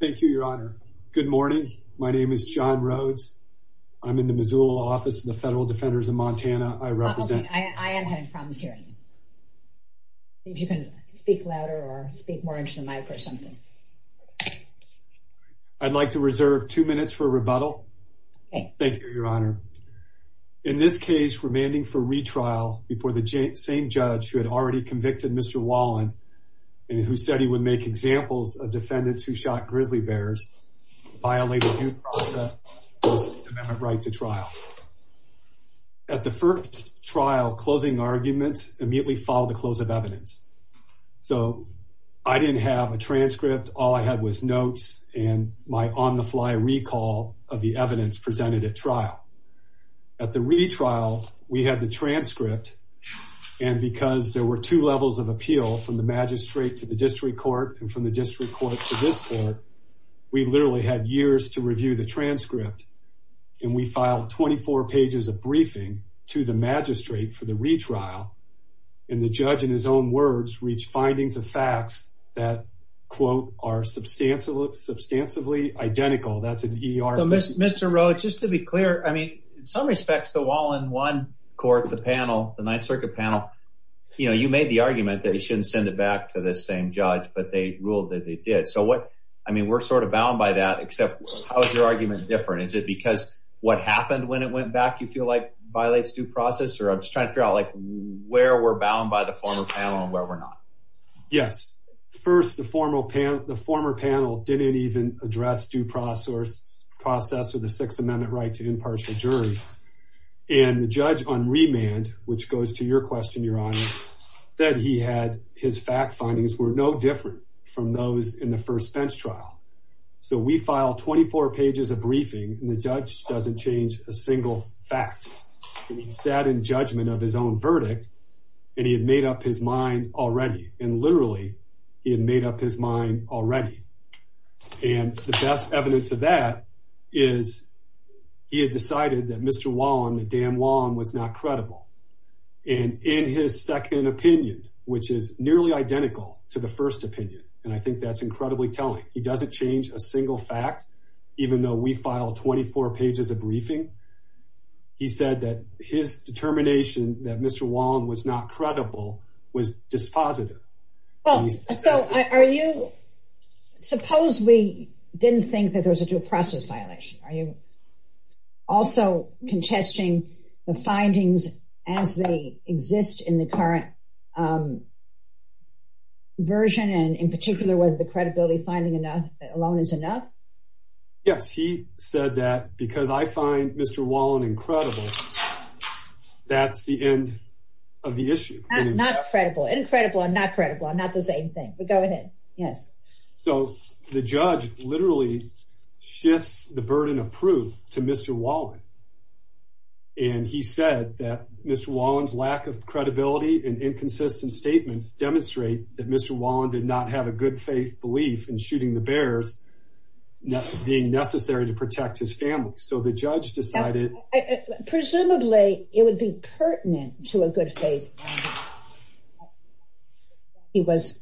Thank you, Your Honor. Good morning. My name is John Rhodes. I'm in the Missoula Office of the Federal Defenders of Montana. I represent... I am having problems hearing you. If you can speak louder or speak more into the mic or something. I'd like to reserve two minutes for rebuttal. Thank you, Your Honor. In this case, remanding for retrial before the same judge who had already convicted Mr. Wallen and who said he would make examples of defendants who shot grizzly bears, violated due process, lost the right to trial. At the first trial, closing arguments immediately followed the close of evidence. So I didn't have a transcript. All I had was notes and my on-the-fly recall of the evidence presented at trial. At the retrial, we had the transcript. And because there were two levels of appeal from the magistrate to the district court and from the district court to this court, we literally had years to review the transcript. And we filed 24 pages of briefing to the magistrate for the retrial. And the judge, in his own words, reached findings of facts that, quote, are substantially identical. That's an E.R. So Mr. Rowe, just to be clear, I mean, in some respects, the Wallen one court, the panel, the Ninth Circuit panel, you know, you made the argument that you shouldn't send it back to the same judge, but they ruled that they did. So what I mean, we're sort of bound by that, except how is your argument different? Is it because what happened when it went back, you feel like, violates due process? Or I'm just trying to figure out, like, where we're bound by the former panel and where we're not. Yes. First, the former panel didn't even address due process or the Sixth Amendment right to impartial jury. And the judge on remand, which goes to your question, Your Honor, that he had, his fact findings were no different from those in the first bench trial. So we filed 24 pages of briefing and the judge doesn't change a single fact. He sat in judgment of his own verdict and he had made up his mind already. And literally, he had made up his mind already. And the best evidence of that is he had decided that Mr. Wallen, the damn Wallen, was not credible. And in his second opinion, which is nearly identical to the first opinion, and I think that's incredibly telling. He doesn't change a single fact, even though we filed 24 pages of briefing. He said that his determination that Mr. Wallen was not credible was dispositive. Well, so are you, suppose we didn't think that there was a due process violation. Are you also contesting the findings as they exist in the current version, and in particular whether the credibility finding alone is enough? Yes, he said that because I find Mr. Wallen incredible, that's the end of the issue. Not credible. Incredible and not credible are not the same thing. But go ahead. Yes. So the judge literally shifts the burden of proof to Mr. Wallen. And he said that Mr. Wallen's lack of credibility and inconsistent statements demonstrate that Mr. Wallen did not have a good faith belief in shooting the bears being necessary to protect his family. So the judge decided. Presumably it would be pertinent to a good faith. He was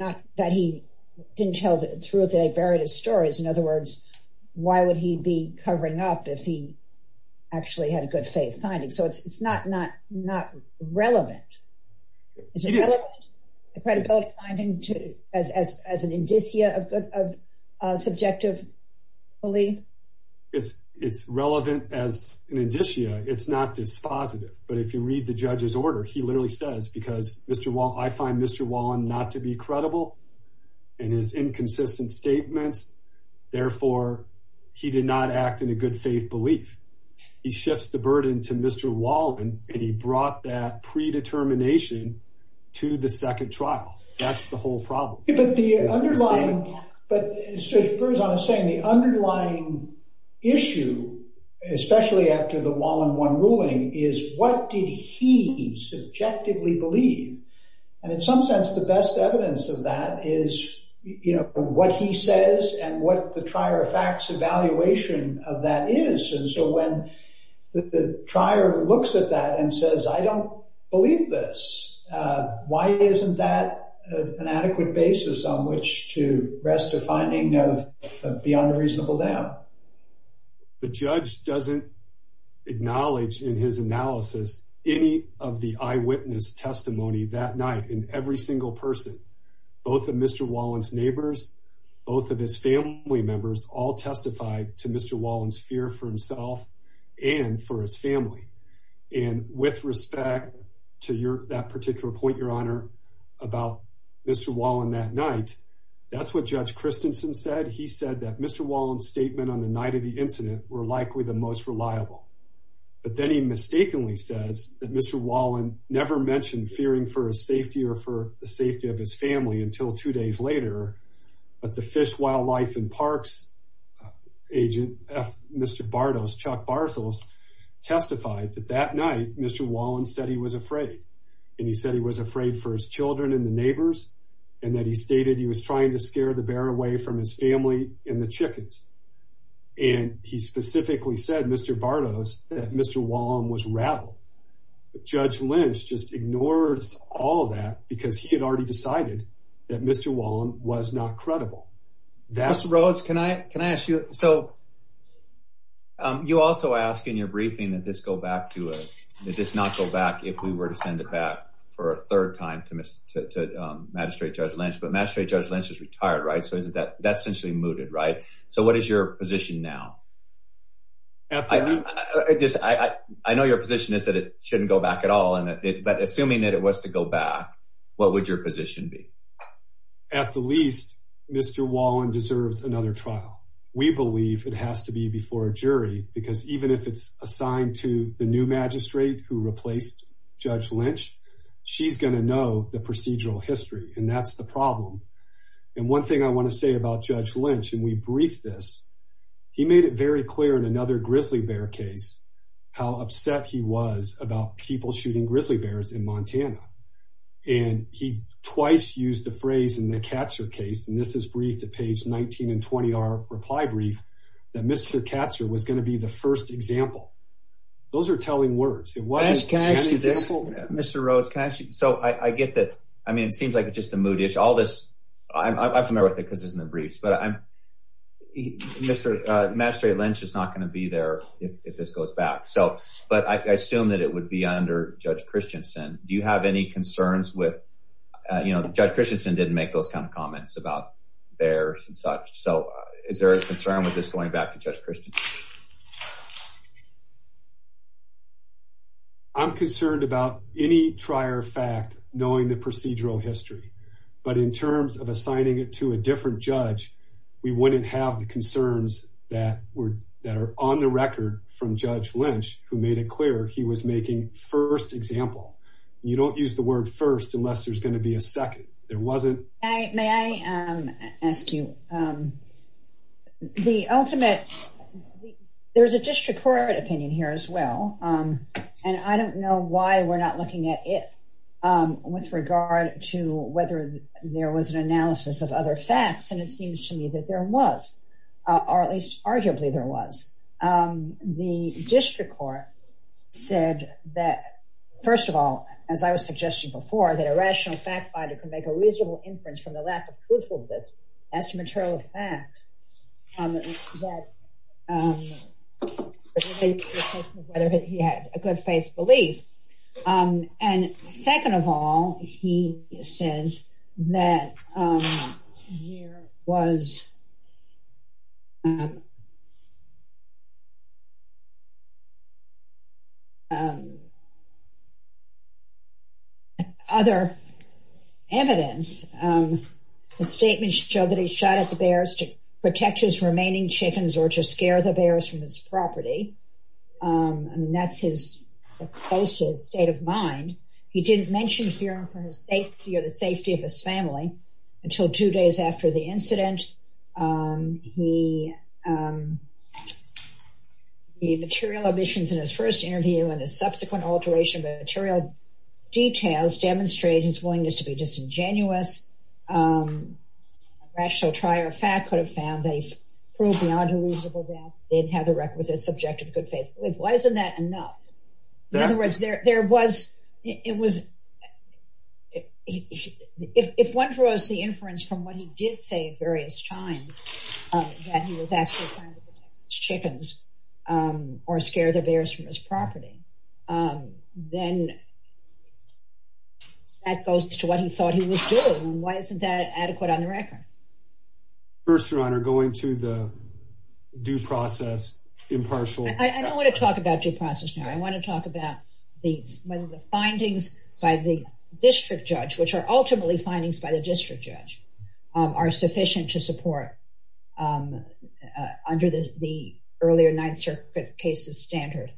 not that he didn't tell the truth. They buried his stories. In other words, why would he be covering up if he actually had a good faith finding? So it's not not not relevant. Is it relevant? The credibility finding as an indicia of subjective belief? It's relevant as an indicia. It's not dispositive. But if you read the judge's order, he literally says because Mr. Wallen, I find Mr. Wallen not to be credible in his inconsistent statements. Therefore, he did not act in a good faith belief. He shifts the burden to Mr. Wallen. And he brought that predetermination to the second trial. That's the whole problem. But the underlying issue, especially after the Wallen one ruling, is what did he subjectively believe? And in some sense, the best evidence of that is, you know, what he says and what the trier of facts evaluation of that is. And so when the trier looks at that and says, I don't believe this, why isn't that an adequate basis on which to rest a finding of beyond a reasonable doubt? The judge doesn't acknowledge in his analysis any of the eyewitness testimony that night in every single person. Both of Mr. Wallen's neighbors, both of his family members all testified to Mr. Wallen's fear for himself and for his family. And with respect to that particular point, Your Honor, about Mr. Wallen that night, that's what Judge Christensen said. He said that Mr. Wallen's statement on the night of the incident were likely the most reliable. But then he mistakenly says that Mr. Wallen never mentioned fearing for his safety or for the safety of his family until two days later. But the Fish, Wildlife and Parks agent, Mr. Bardos, Chuck Barthels testified that that night, Mr. Wallen said he was afraid. And he said he was afraid for his children and the neighbors and that he stated he was trying to scare the bear away from his family and the chickens. And he specifically said, Mr. Bardos, that Mr. Wallen was rattled. Judge Lynch just ignores all of that because he had already decided that Mr. Wallen was not credible. That's Rose. Can I can I ask you? So you also ask in your briefing that this go back to it. It does not go back if we were to send it back for a third time to magistrate Judge Lynch, but magistrate Judge Lynch is retired. Right. So is that that's essentially mooted. Right. So what is your position now? I just I know your position is that it shouldn't go back at all. And but assuming that it was to go back, what would your position be? At the least, Mr. Wallen deserves another trial. We believe it has to be before a jury, because even if it's assigned to the new magistrate who replaced Judge Lynch, she's going to know the procedural history. And that's the problem. And one thing I want to say about Judge Lynch, and we briefed this, he made it very clear in another grizzly bear case how upset he was about people shooting grizzly bears in Montana. And he twice used the phrase in the Katzer case. And this is briefed to page 19 and 20, our reply brief that Mr. Katzer was going to be the first example. Those are telling words. Mr. Rhodes, can I ask you? So I get that. I mean, it seems like it's just a mood issue. All this. I'm familiar with it because it's in the briefs. But I'm Mr. Magistrate Lynch is not going to be there if this goes back. So but I assume that it would be under Judge Christensen. Do you have any concerns with, you know, Judge Christensen didn't make those kind of comments about bears and such. So is there a concern with this going back to Judge Christensen? I'm concerned about any trier fact knowing the procedural history, but in terms of assigning it to a different judge, we wouldn't have the concerns that were that are on the record from Judge Lynch, who made it clear he was making first example. You don't use the word first unless there's going to be a second. There wasn't. May I ask you the ultimate. There's a district court opinion here as well. And I don't know why we're not looking at it with regard to whether there was an analysis of other facts. And it seems to me that there was, or at least arguably there was. The district court said that, first of all, as I was suggesting before, that a rational fact finder could make a reasonable inference from the lack of proof of this as to material facts. Whether he had a good faith belief. And second of all, he says that there was other evidence. The statements show that he shot at the bears to protect his remaining chickens or to scare the bears from his property. And that's his closest state of mind. He didn't mention fear for his safety or the safety of his family until two days after the incident. He made material omissions in his first interview, and his subsequent alteration of the material details demonstrate his willingness to be disingenuous. A rational fact could have found that he proved beyond a reasonable doubt that he didn't have the requisite subjective good faith belief. Why isn't that enough? In other words, if one draws the inference from what he did say at various times, that he was actually trying to protect his chickens or scare the bears from his property, then that goes to what he thought he was doing. Why isn't that adequate on the record? First, Your Honor, going to the due process impartial... I don't want to talk about due process now. I want to talk about whether the findings by the district judge, which are ultimately findings by the district judge, are sufficient to support under the earlier Ninth Circuit cases standard.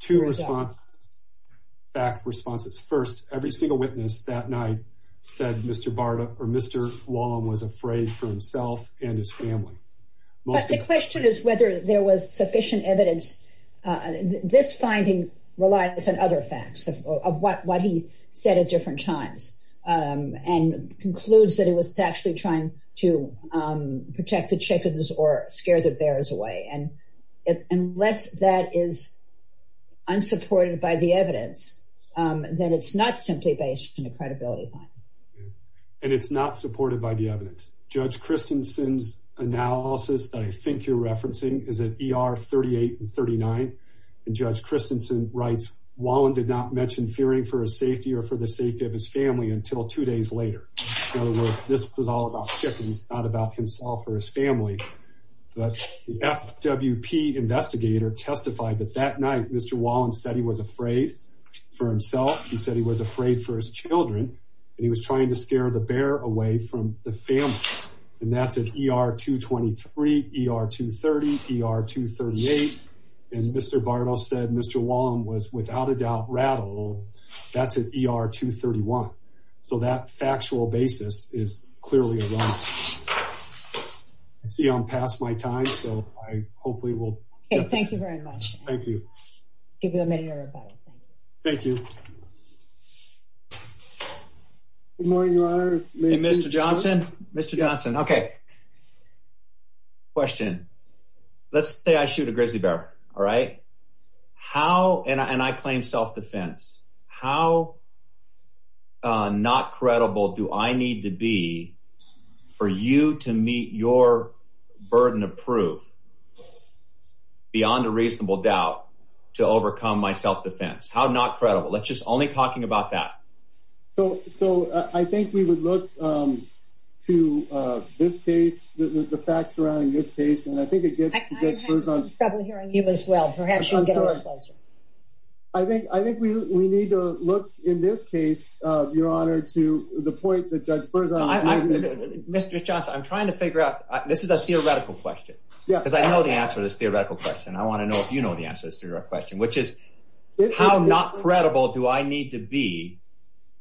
Two response...backed responses. First, every single witness that night said Mr. Barda or Mr. Wallum was afraid for himself and his family. But the question is whether there was sufficient evidence. This finding relies on other facts of what he said at different times and concludes that he was actually trying to protect the chickens or scare the bears away. And unless that is unsupported by the evidence, then it's not simply based on a credibility finding. And it's not supported by the evidence. Judge Christensen's analysis that I think you're referencing is at ER 38 and 39. And Judge Christensen writes, Wallum did not mention fearing for his safety or for the safety of his family until two days later. In other words, this was all about chickens, not about himself or his family. But the FWP investigator testified that that night, Mr. Wallum said he was afraid for himself. He said he was afraid for his children, and he was trying to scare the bear away from the family. And that's at ER 223, ER 230, ER 238. And Mr. Barda said Mr. Wallum was without a doubt rattled. That's at ER 231. So that factual basis is clearly wrong. I see I'm past my time, so I hopefully will... Okay, thank you very much. Thank you. Give you a minute, everybody. Thank you. Good morning, Your Honor. Hey, Mr. Johnson. Mr. Johnson, okay. Question. Let's say I shoot a grizzly bear, all right? And I claim self-defense. How not credible do I need to be for you to meet your burden of proof beyond a reasonable doubt to overcome my self-defense? How not credible? Let's just only talking about that. So I think we would look to this case, the facts surrounding this case, and I think it gets... I'm having trouble hearing you as well. Perhaps you can get a little closer. I think we need to look in this case, Your Honor, to the point that Judge Berzon... Mr. Johnson, I'm trying to figure out... This is a theoretical question. Yeah. Because I know the answer to this theoretical question. I want to know if you know the answer to this theoretical question, which is how not credible do I need to be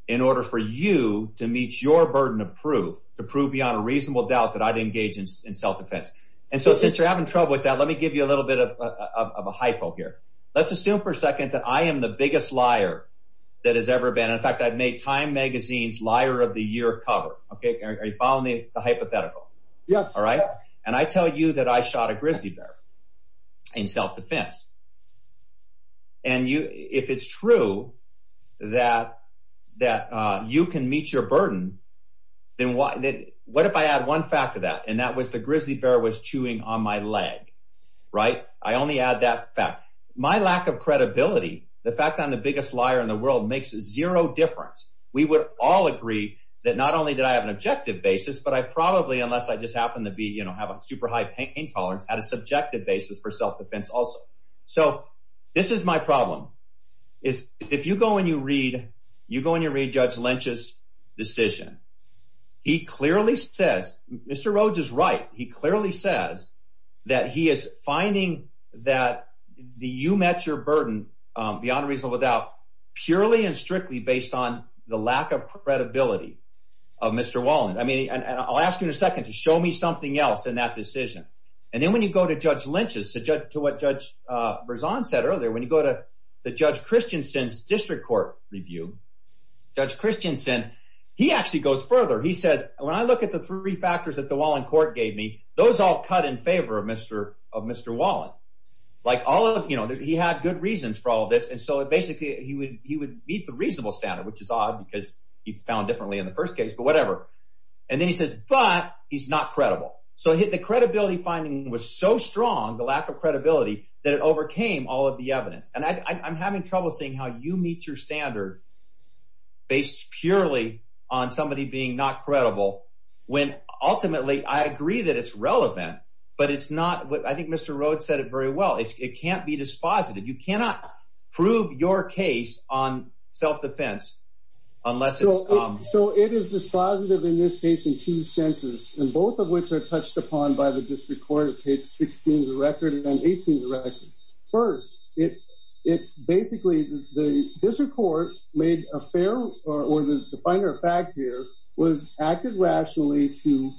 in order for you to meet your burden of proof to prove beyond a reasonable doubt that I'd engage in self-defense? And so since you're having trouble with that, let me give you a little bit of a hypo here. Let's assume for a second that I am the biggest liar that has ever been. In fact, I've made Time Magazine's Liar of the Year cover. Are you following the hypothetical? Yes. All right. And I tell you that I shot a grizzly bear in self-defense. And if it's true that you can meet your burden, then what if I add one fact to that, and that was the grizzly bear was chewing on my leg. Right? I only add that fact. My lack of credibility, the fact that I'm the biggest liar in the world, makes zero difference. We would all agree that not only did I have an objective basis, but I probably, unless I just happen to have a super high pain tolerance, had a subjective basis for self-defense also. So this is my problem. If you go and you read Judge Lynch's decision, he clearly says – Mr. Rhodes is right. He clearly says that he is finding that you met your burden beyond a reasonable doubt purely and strictly based on the lack of credibility of Mr. Wallen. And I'll ask you in a second to show me something else in that decision. And then when you go to Judge Lynch's, to what Judge Berzon said earlier, when you go to Judge Christensen's district court review, Judge Christensen, he actually goes further. He says, when I look at the three factors that the Wallen court gave me, those all cut in favor of Mr. Wallen. He had good reasons for all of this, and so basically he would meet the reasonable standard, which is odd because he found differently in the first case, but whatever. And then he says, but he's not credible. So the credibility finding was so strong, the lack of credibility, that it overcame all of the evidence. And I'm having trouble seeing how you meet your standard based purely on somebody being not credible when ultimately I agree that it's relevant, but it's not – I think Mr. Rhodes said it very well. It can't be dispositive. You cannot prove your case on self-defense unless it's – basically the district court made a fair – or the finer fact here was acted rationally to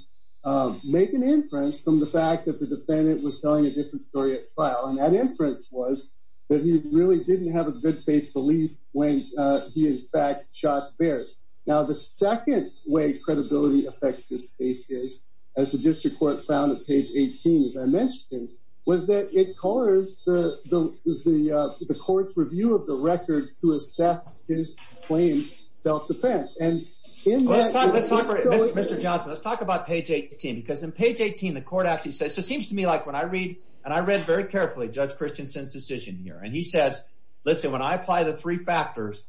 make an inference from the fact that the defendant was telling a different story at trial. And that inference was that he really didn't have a good faith belief when he in fact shot Baird. Now, the second way credibility affects this case is, as the district court found at page 18, as I mentioned, was that it colors the court's review of the record to assess his claimed self-defense. And in that – Mr. Johnson, let's talk about page 18 because in page 18 the court actually says – so it seems to me like when I read – and I read very carefully Judge Christensen's decision here. And he says, listen, when I apply the three factors,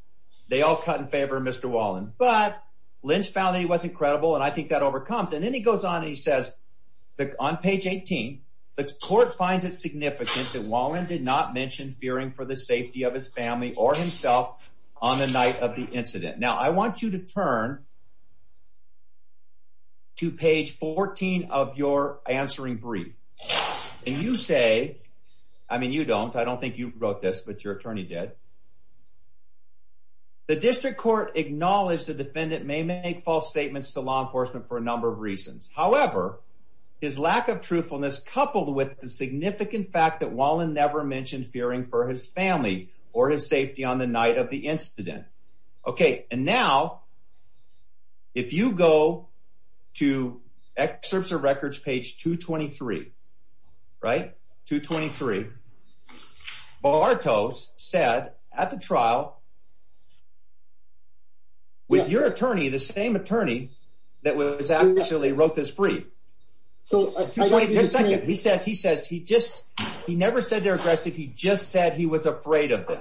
they all cut in favor of Mr. Wallin. But Lynch found that he wasn't credible, and I think that overcomes. And then he goes on and he says on page 18, the court finds it significant that Wallin did not mention fearing for the safety of his family or himself on the night of the incident. Now, I want you to turn to page 14 of your answering brief. And you say – I mean, you don't. I don't think you wrote this, but your attorney did. The district court acknowledged the defendant may make false statements to law enforcement for a number of reasons. However, his lack of truthfulness coupled with the significant fact that Wallin never mentioned fearing for his family or his safety on the night of the incident. Okay, and now if you go to excerpts of records page 223, right, 223, Bartos said at the trial with your attorney, the same attorney that was actually – wrote this brief. Just a second. He says he just – he never said they're aggressive. He just said he was afraid of them.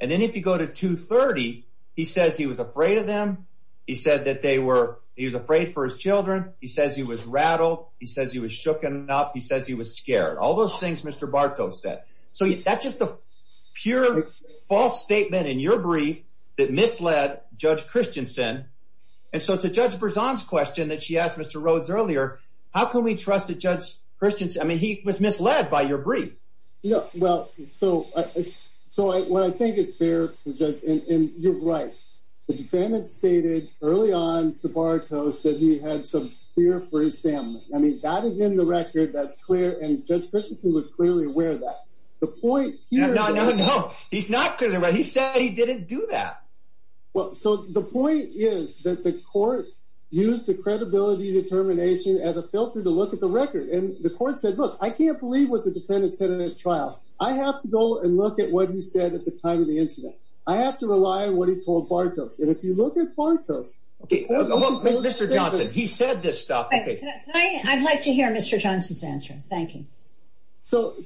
And then if you go to 230, he says he was afraid of them. He said that they were – he was afraid for his children. He says he was rattled. He says he was shooken up. He says he was scared. All those things Mr. Bartos said. So that's just a pure false statement in your brief that misled Judge Christensen. And so to Judge Berzon's question that she asked Mr. Rhodes earlier, how can we trust that Judge Christensen – I mean he was misled by your brief. Yeah, well, so what I think is fair, and you're right, the defendant stated early on to Bartos that he had some fear for his family. I mean that is in the record. That's clear. And Judge Christensen was clearly aware of that. The point here – No, no, no. He's not clearly aware. He said he didn't do that. Well, so the point is that the court used the credibility determination as a filter to look at the record. And the court said, look, I can't believe what the defendant said in that trial. I have to go and look at what he said at the time of the incident. I have to rely on what he told Bartos. And if you look at Bartos – Okay, Mr. Johnson, he said this stuff. Thank you. So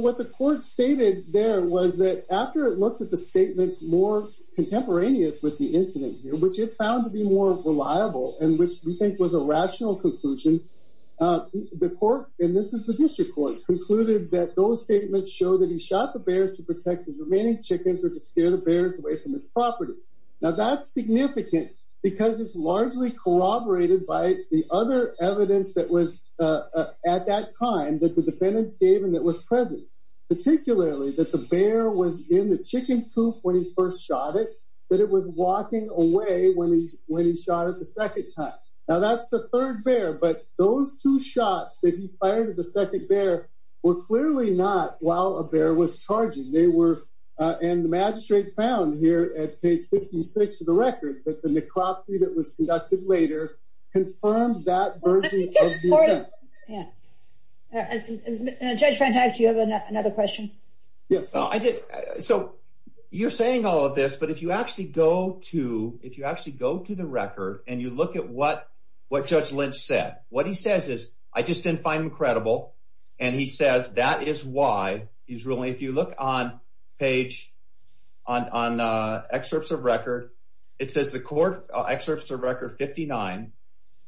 what the court stated there was that after it looked at the statements more contemporaneous with the incident, which it found to be more reliable and which we think was a rational conclusion, the court – and this is the district court – concluded that those statements show that he shot the bears to protect his remaining chickens or to scare the bears away from his property. Now, that's significant because it's largely corroborated by the other evidence that was at that time that the defendants gave and that was present, particularly that the bear was in the chicken coop when he first shot it, that it was walking away when he shot it the second time. Now, that's the third bear, but those two shots that he fired at the second bear were clearly not while a bear was charging. And the magistrate found here at page 56 of the record that the necropsy that was conducted later confirmed that version of the event. Yeah. Judge Van Dyke, do you have another question? Yes. So you're saying all of this, but if you actually go to the record and you look at what Judge Lynch said, what he says is, I just didn't find him credible, and he says that is why. He's ruling, if you look on page, on excerpts of record, it says the court excerpts of record 59,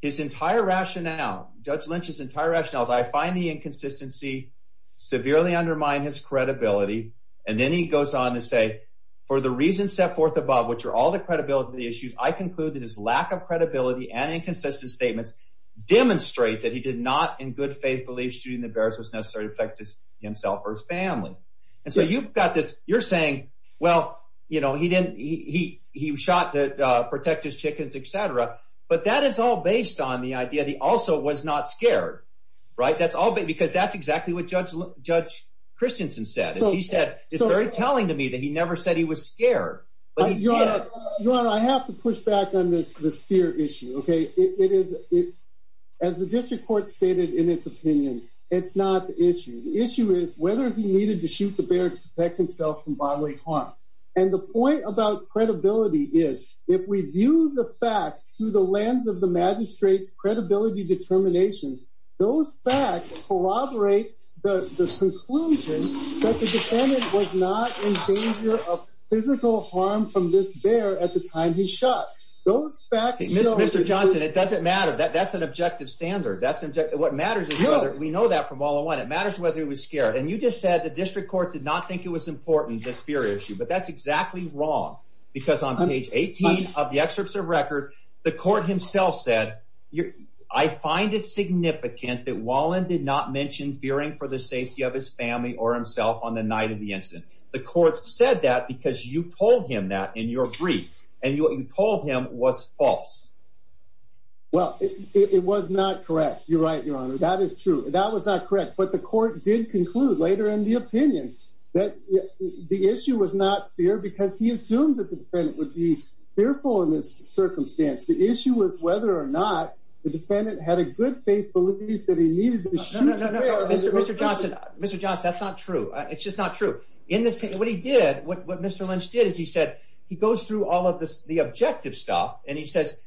his entire rationale, Judge Lynch's entire rationale is, I find the inconsistency severely undermine his credibility. And then he goes on to say, for the reasons set forth above, which are all the credibility issues, I conclude that his lack of credibility and inconsistent statements demonstrate that he did not in good faith believe that shooting the bears was necessary to protect himself or his family. And so you've got this, you're saying, well, you know, he shot to protect his chickens, et cetera, but that is all based on the idea that he also was not scared, right? Because that's exactly what Judge Christensen said. He said, it's very telling to me that he never said he was scared, but he did. Your Honor, I have to push back on this fear issue, okay? It is, as the district court stated in its opinion, it's not the issue. The issue is whether he needed to shoot the bear to protect himself from bodily harm. And the point about credibility is, if we view the facts through the lens of the magistrate's credibility determination, those facts corroborate the conclusion that the defendant was not in danger of physical harm from this bear at the time he shot. Those facts show that he was scared. Mr. Johnson, it doesn't matter. That's an objective standard. What matters is whether, we know that from all I want, it matters whether he was scared. And you just said the district court did not think it was important, this fear issue. But that's exactly wrong, because on page 18 of the excerpts of record, the court himself said, I find it significant that Wallin did not mention fearing for the safety of his family or himself on the night of the incident. The court said that because you told him that in your brief. And what you told him was false. Well, it was not correct. You're right, Your Honor. That is true. That was not correct, but the court did conclude later in the opinion that the issue was not fear, because he assumed that the defendant would be fearful in this circumstance. The issue was whether or not the defendant had a good faith belief that he needed to shoot the bear. Mr. Johnson, that's not true. It's just not true. What he did, what Mr. Lynch did, is he said, he goes through all of the objective stuff, and he says,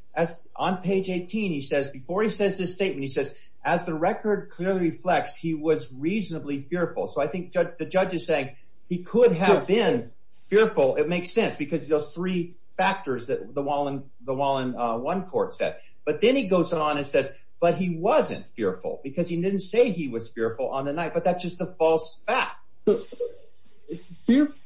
on page 18, he says, before he says this statement, he says, as the record clearly reflects, he was reasonably fearful. So I think the judge is saying he could have been fearful. It makes sense, because those three factors that the Wallin I court said. But then he goes on and says, but he wasn't fearful, because he didn't say he was fearful on the night. But that's just a false fact.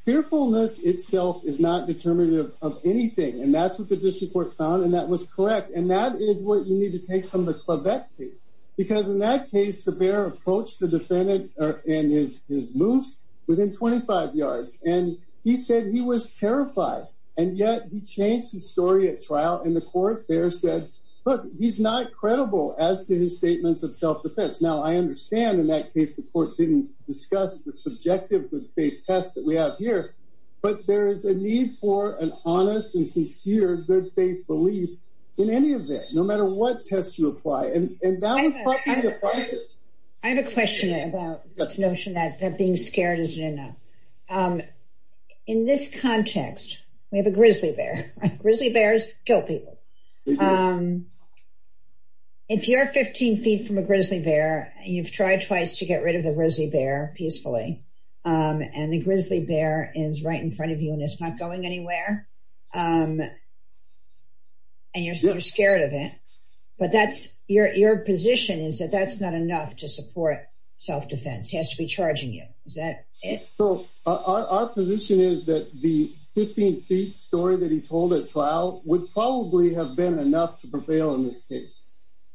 Fearfulness itself is not determinative of anything. And that's what the district court found, and that was correct. And that is what you need to take from the Quebec case, because in that case, the bear approached the defendant and his moose within 25 yards. And he said he was terrified, and yet he changed his story at trial. And the court there said, look, he's not credible as to his statements of self-defense. Now, I understand in that case, the court didn't discuss the subjective good faith test that we have here. But there is a need for an honest and sincere good faith belief in any event, no matter what test you apply. I have a question about this notion that being scared isn't enough. In this context, we have a grizzly bear. Grizzly bears kill people. If you're 15 feet from a grizzly bear, and you've tried twice to get rid of the grizzly bear peacefully, and the grizzly bear is right in front of you and it's not going anywhere, and you're scared of it, but your position is that that's not enough to support self-defense. He has to be charging you. Is that it? So our position is that the 15 feet story that he told at trial would probably have been enough to prevail in this case.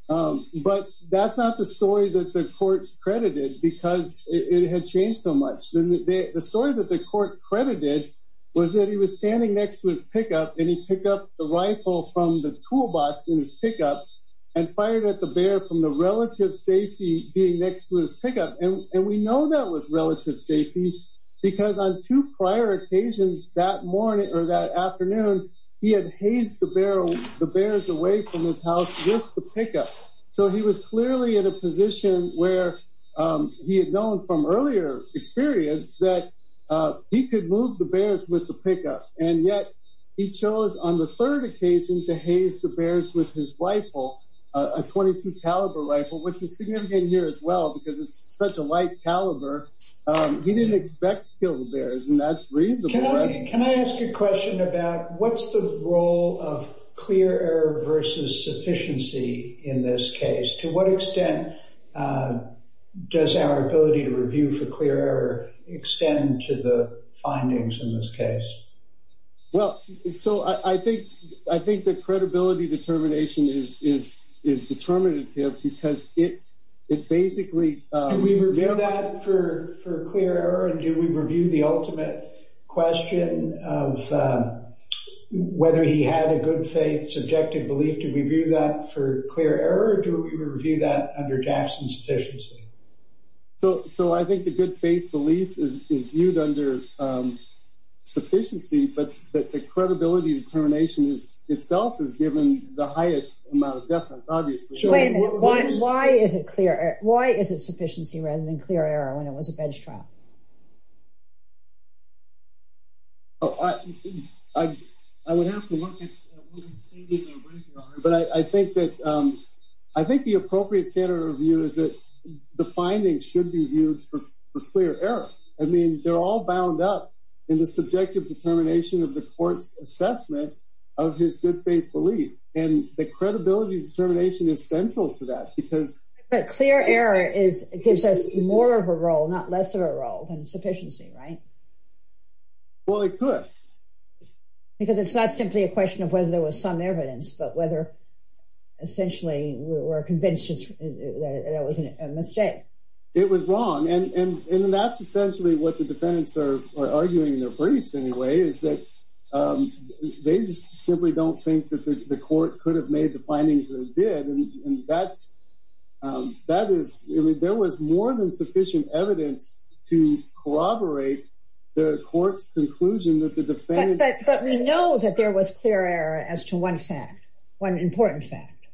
But that's not the story that the court credited, because it had changed so much. The story that the court credited was that he was standing next to his pickup, and he picked up the rifle from the toolbox in his pickup and fired at the bear from the relative safety being next to his pickup. And we know that was relative safety, because on two prior occasions that morning or that afternoon, he had hazed the bears away from his house with the pickup. So he was clearly in a position where he had known from earlier experience that he could move the bears with the pickup, and yet he chose on the third occasion to haze the bears with his rifle, a .22 caliber rifle, which is significant here as well because it's such a light caliber. He didn't expect to kill the bears, and that's reasonable. Can I ask a question about what's the role of clear error versus sufficiency in this case? To what extent does our ability to review for clear error extend to the findings in this case? Well, so I think the credibility determination is determinative because it basically— Do we review the ultimate question of whether he had a good faith, subjective belief? Do we review that for clear error, or do we review that under Jackson's sufficiency? So I think the good faith belief is viewed under sufficiency, but the credibility determination itself is given the highest amount of deference, obviously. Wait a minute. Why is it sufficiency rather than clear error when it was a bench trial? I would have to look at what the standards are, but I think that— I think the appropriate standard of review is that the findings should be viewed for clear error. I mean, they're all bound up in the subjective determination of the court's assessment of his good faith belief, and the credibility determination is central to that because— But clear error gives us more of a role, not less of a role, than sufficiency, right? Well, it could. Because it's not simply a question of whether there was some evidence, but whether essentially we're convinced that it was a mistake. It was wrong, and that's essentially what the defendants are arguing in their briefs anyway, is that they just simply don't think that the court could have made the findings that it did, and that is—I mean, there was more than sufficient evidence to corroborate the court's conclusion that the defendants— But we know that there was clear error as to one fact, one important fact.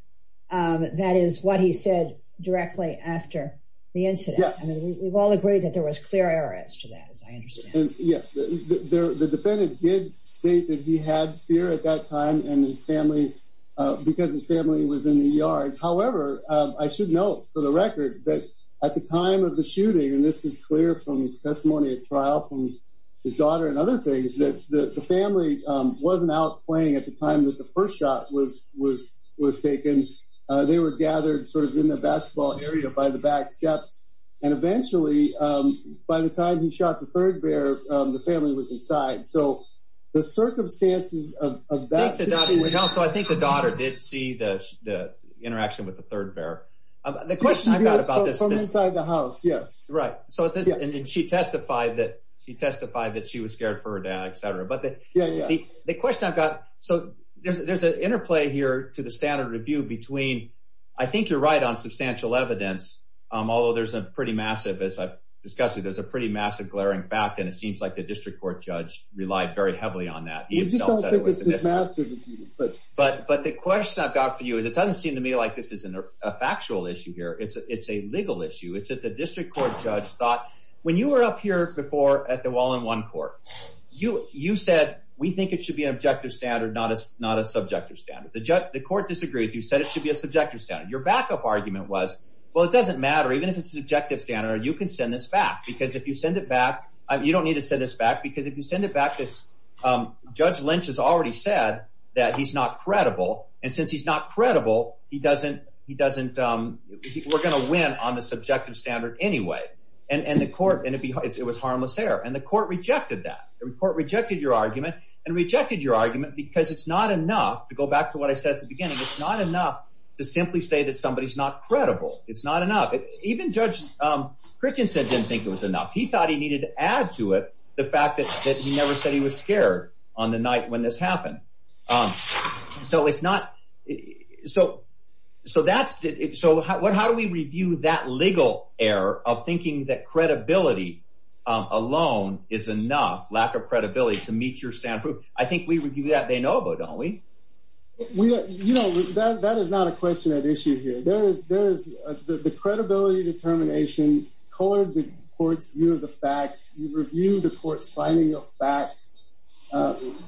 That is what he said directly after the incident. Yes. I mean, we've all agreed that there was clear error as to that, as I understand it. Yes. The defendant did state that he had fear at that time and his family—because his family was in the yard. However, I should note for the record that at the time of the shooting, and this is clear from testimony at trial from his daughter and other things, that the family wasn't out playing at the time that the first shot was taken. They were gathered sort of in the basketball area by the back steps, and eventually by the time he shot the third bear, the family was inside. So the circumstances of that— So I think the daughter did see the interaction with the third bear. The question I've got about this— From inside the house, yes. Right. And she testified that she was scared for her dad, et cetera. But the question I've got—so there's an interplay here to the standard review between— There's a pretty massive—as I've discussed with you, there's a pretty massive glaring fact, and it seems like the district court judge relied very heavily on that. He himself said it was— I just don't think it's as massive as you think. But the question I've got for you is it doesn't seem to me like this is a factual issue here. It's a legal issue. It's that the district court judge thought— When you were up here before at the Wallen One Court, you said, we think it should be an objective standard, not a subjective standard. The court disagreed with you, said it should be a subjective standard. Your backup argument was, well, it doesn't matter. Even if it's a subjective standard, you can send this back because if you send it back— You don't need to send this back because if you send it back, Judge Lynch has already said that he's not credible. And since he's not credible, he doesn't—we're going to win on the subjective standard anyway. And the court—and it was harmless error. And the court rejected that. The court rejected your argument and rejected your argument because it's not enough, to go back to what I said at the beginning, it's not enough to simply say that somebody's not credible. It's not enough. Even Judge Christensen didn't think it was enough. He thought he needed to add to it the fact that he never said he was scared on the night when this happened. So it's not—so that's—so how do we review that legal error of thinking that credibility alone is enough, lack of credibility, to meet your standard? I think we review that de novo, don't we? You know, that is not a question at issue here. There is—the credibility determination colored the court's view of the facts. You review the court's finding of facts.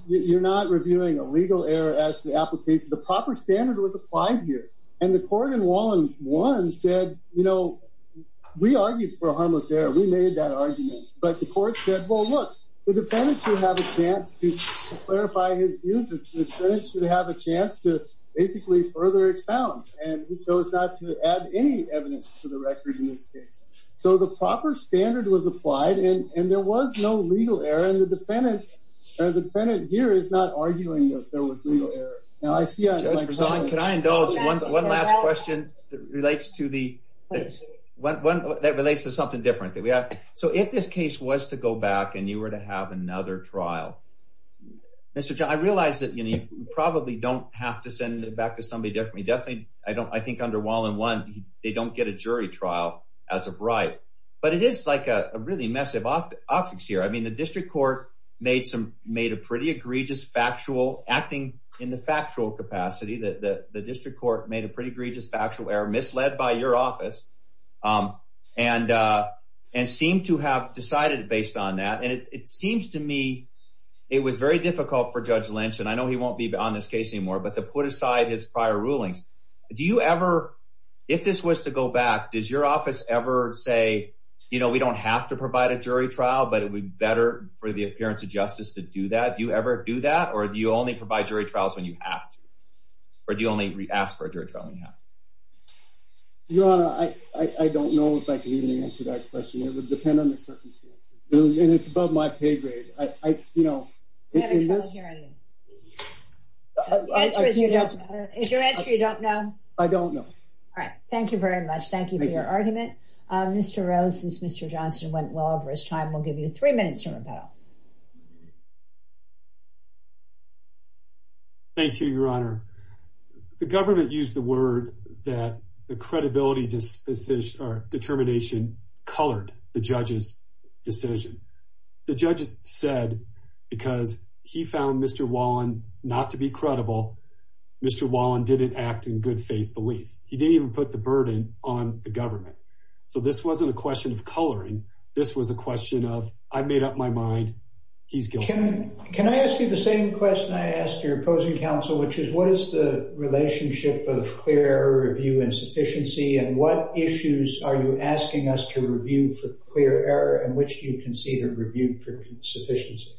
You're not reviewing a legal error as to the application. The proper standard was applied here. And the court in Wallen 1 said, you know, we argued for a harmless error. We made that argument. But the court said, well, look, the defendant should have a chance to clarify his views. The defendant should have a chance to basically further expound. And he chose not to add any evidence to the record in this case. So the proper standard was applied, and there was no legal error. And the defendant here is not arguing that there was legal error. Now, I see— Can I indulge one last question that relates to the—that relates to something different? So if this case was to go back and you were to have another trial, Mr. John, I realize that you probably don't have to send it back to somebody different. I think under Wallen 1, they don't get a jury trial as of right. But it is like a really massive optics here. I mean, the district court made a pretty egregious factual—acting in the factual capacity. The district court made a pretty egregious factual error, misled by your office, and seemed to have decided based on that. And it seems to me it was very difficult for Judge Lynch—and I know he won't be on this case anymore— but to put aside his prior rulings. Do you ever—if this was to go back, does your office ever say, you know, we don't have to provide a jury trial, but it would be better for the appearance of justice to do that? Do you ever do that? Or do you only provide jury trials when you have to? Or do you only ask for a jury trial when you have to? Your Honor, I don't know if I can even answer that question. It would depend on the circumstances. And it's above my pay grade. You know, in this— Do you have a trial hearing? Is your answer you don't know? I don't know. All right. Thank you very much. Thank you for your argument. Mr. Rose, since Mr. Johnston went well over his time, we'll give you three minutes to rebuttal. Thank you, Your Honor. The government used the word that the credibility determination colored the judge's decision. The judge said because he found Mr. Wallen not to be credible, Mr. Wallen didn't act in good faith belief. He didn't even put the burden on the government. So this wasn't a question of coloring. This was a question of I've made up my mind. He's guilty. Can I ask you the same question I asked your opposing counsel, which is what is the relationship of clear error, review, insufficiency, and what issues are you asking us to review for clear error and which do you consider review for insufficiency?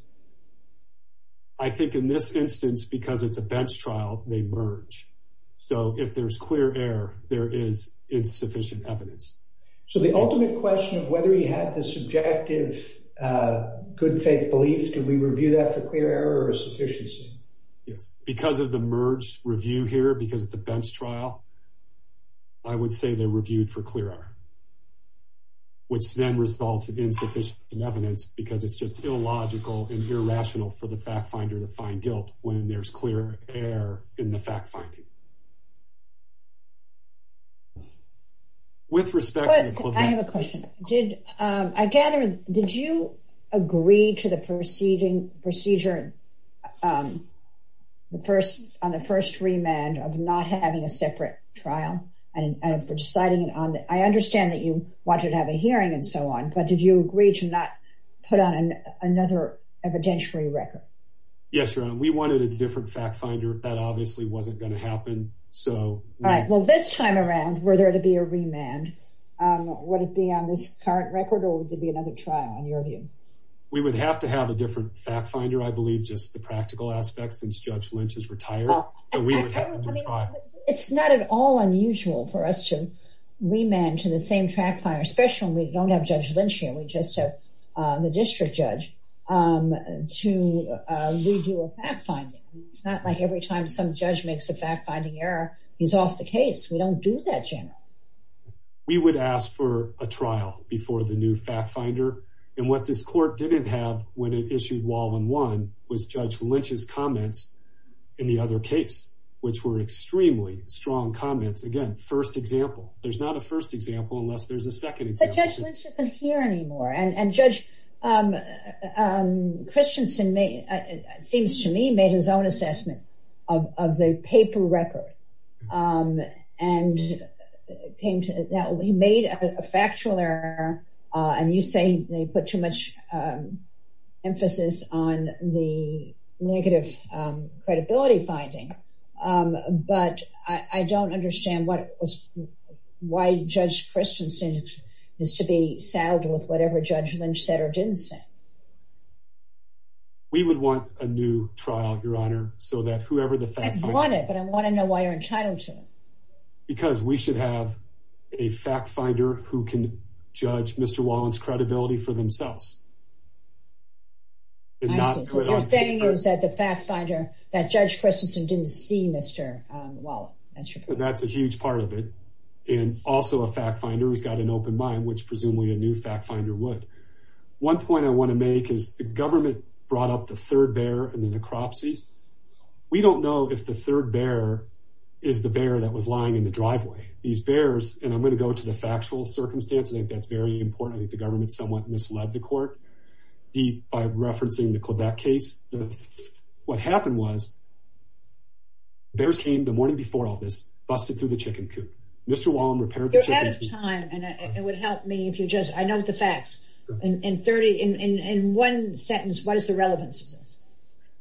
I think in this instance, because it's a bench trial, they merge. So if there's clear error, there is insufficient evidence. So the ultimate question of whether he had the subjective good faith belief, do we review that for clear error or insufficiency? Yes, because of the merged review here, because it's a bench trial. I would say they're reviewed for clear error. Which then results in insufficient evidence because it's just illogical and irrational for the fact finder to find guilt when there's clear error in the fact finding. With respect. I have a question. Did I gather. Did you agree to the proceeding procedure? The first on the first remand of not having a separate trial and for deciding it on. I understand that you wanted to have a hearing and so on. But did you agree to not put on another evidentiary record? Yes. We wanted a different fact finder. That obviously wasn't going to happen. So. All right. Well, this time around, were there to be a remand? Would it be on this current record or would there be another trial on your view? We would have to have a different fact finder. I believe just the practical aspects. Since Judge Lynch is retired. It's not at all unusual for us to remand to the same fact finder, especially when we don't have Judge Lynch here. We just have the district judge to review a fact finding. It's not like every time some judge makes a fact finding error, he's off the case. We don't do that generally. We would ask for a trial before the new fact finder. And what this court didn't have when it issued Walden 1 was Judge Lynch's comments in the other case, which were extremely strong comments. Again, first example. There's not a first example unless there's a second example. But Judge Lynch isn't here anymore. And Judge Christensen, it seems to me, made his own assessment of the paper record. And he made a factual error. And you say they put too much emphasis on the negative credibility finding. But I don't understand why Judge Christensen is to be saddled with whatever Judge Lynch said or didn't say. We would want a new trial, Your Honor, so that whoever the fact finder... I want it, but I want to know why you're entitled to it. Because we should have a fact finder who can judge Mr. Walden's credibility for themselves. So you're saying that the fact finder, that Judge Christensen didn't see Mr. Walden. That's a huge part of it. And also a fact finder who's got an open mind, which presumably a new fact finder would. One point I want to make is the government brought up the third bear and the necropsy. We don't know if the third bear is the bear that was lying in the driveway. These bears, and I'm going to go to the factual circumstances. I think that's very important. I think the government somewhat misled the court by referencing the Quebec case. What happened was bears came the morning before all this, busted through the chicken coop. Mr. Walden repaired the chicken coop. You're out of time. And it would help me if you just... I know the facts. In one sentence, what is the relevance of this?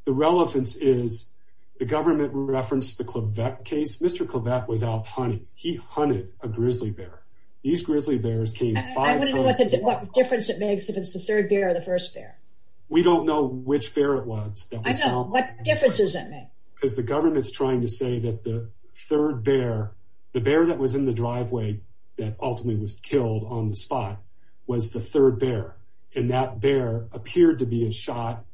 The relevance is the government referenced the Quebec case. Mr. Quebec was out hunting. He hunted a grizzly bear. These grizzly bears came five times. I want to know what difference it makes if it's the third bear or the first bear. We don't know which bear it was. I know. What difference does it make? Because the government's trying to say that the third bear, the bear that was in the driveway, that ultimately was killed on the spot, was the third bear. And that bear appeared to be a shot.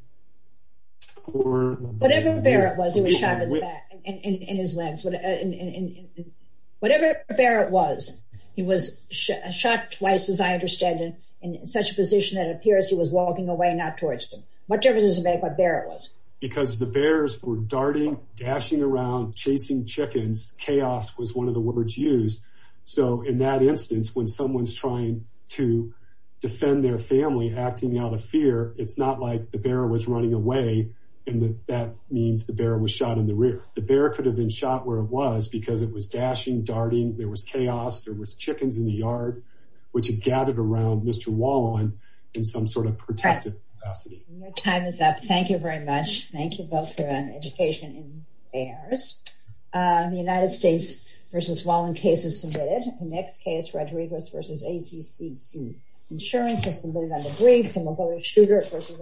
Whatever bear it was, he was shot in the back, in his legs. Whatever bear it was, he was shot twice, as I understand it, in such a position that it appears he was walking away, not towards him. What difference does it make what bear it was? Because the bears were darting, dashing around, chasing chickens. Chaos was one of the words used. So in that instance, when someone's trying to defend their family, acting out of fear, it's not like the bear was running away, and that means the bear was shot in the rear. The bear could have been shot where it was because it was dashing, darting. There was chaos. There was chickens in the yard, which had gathered around Mr. Wallen in some sort of protective capacity. Your time is up. Thank you very much. Thank you both for your education in bears. The United States v. Wallen case is submitted. The next case, Rodriguez v. ACCC. Insurance is submitted under Briggs, and we'll go to Schroeder v. Harris.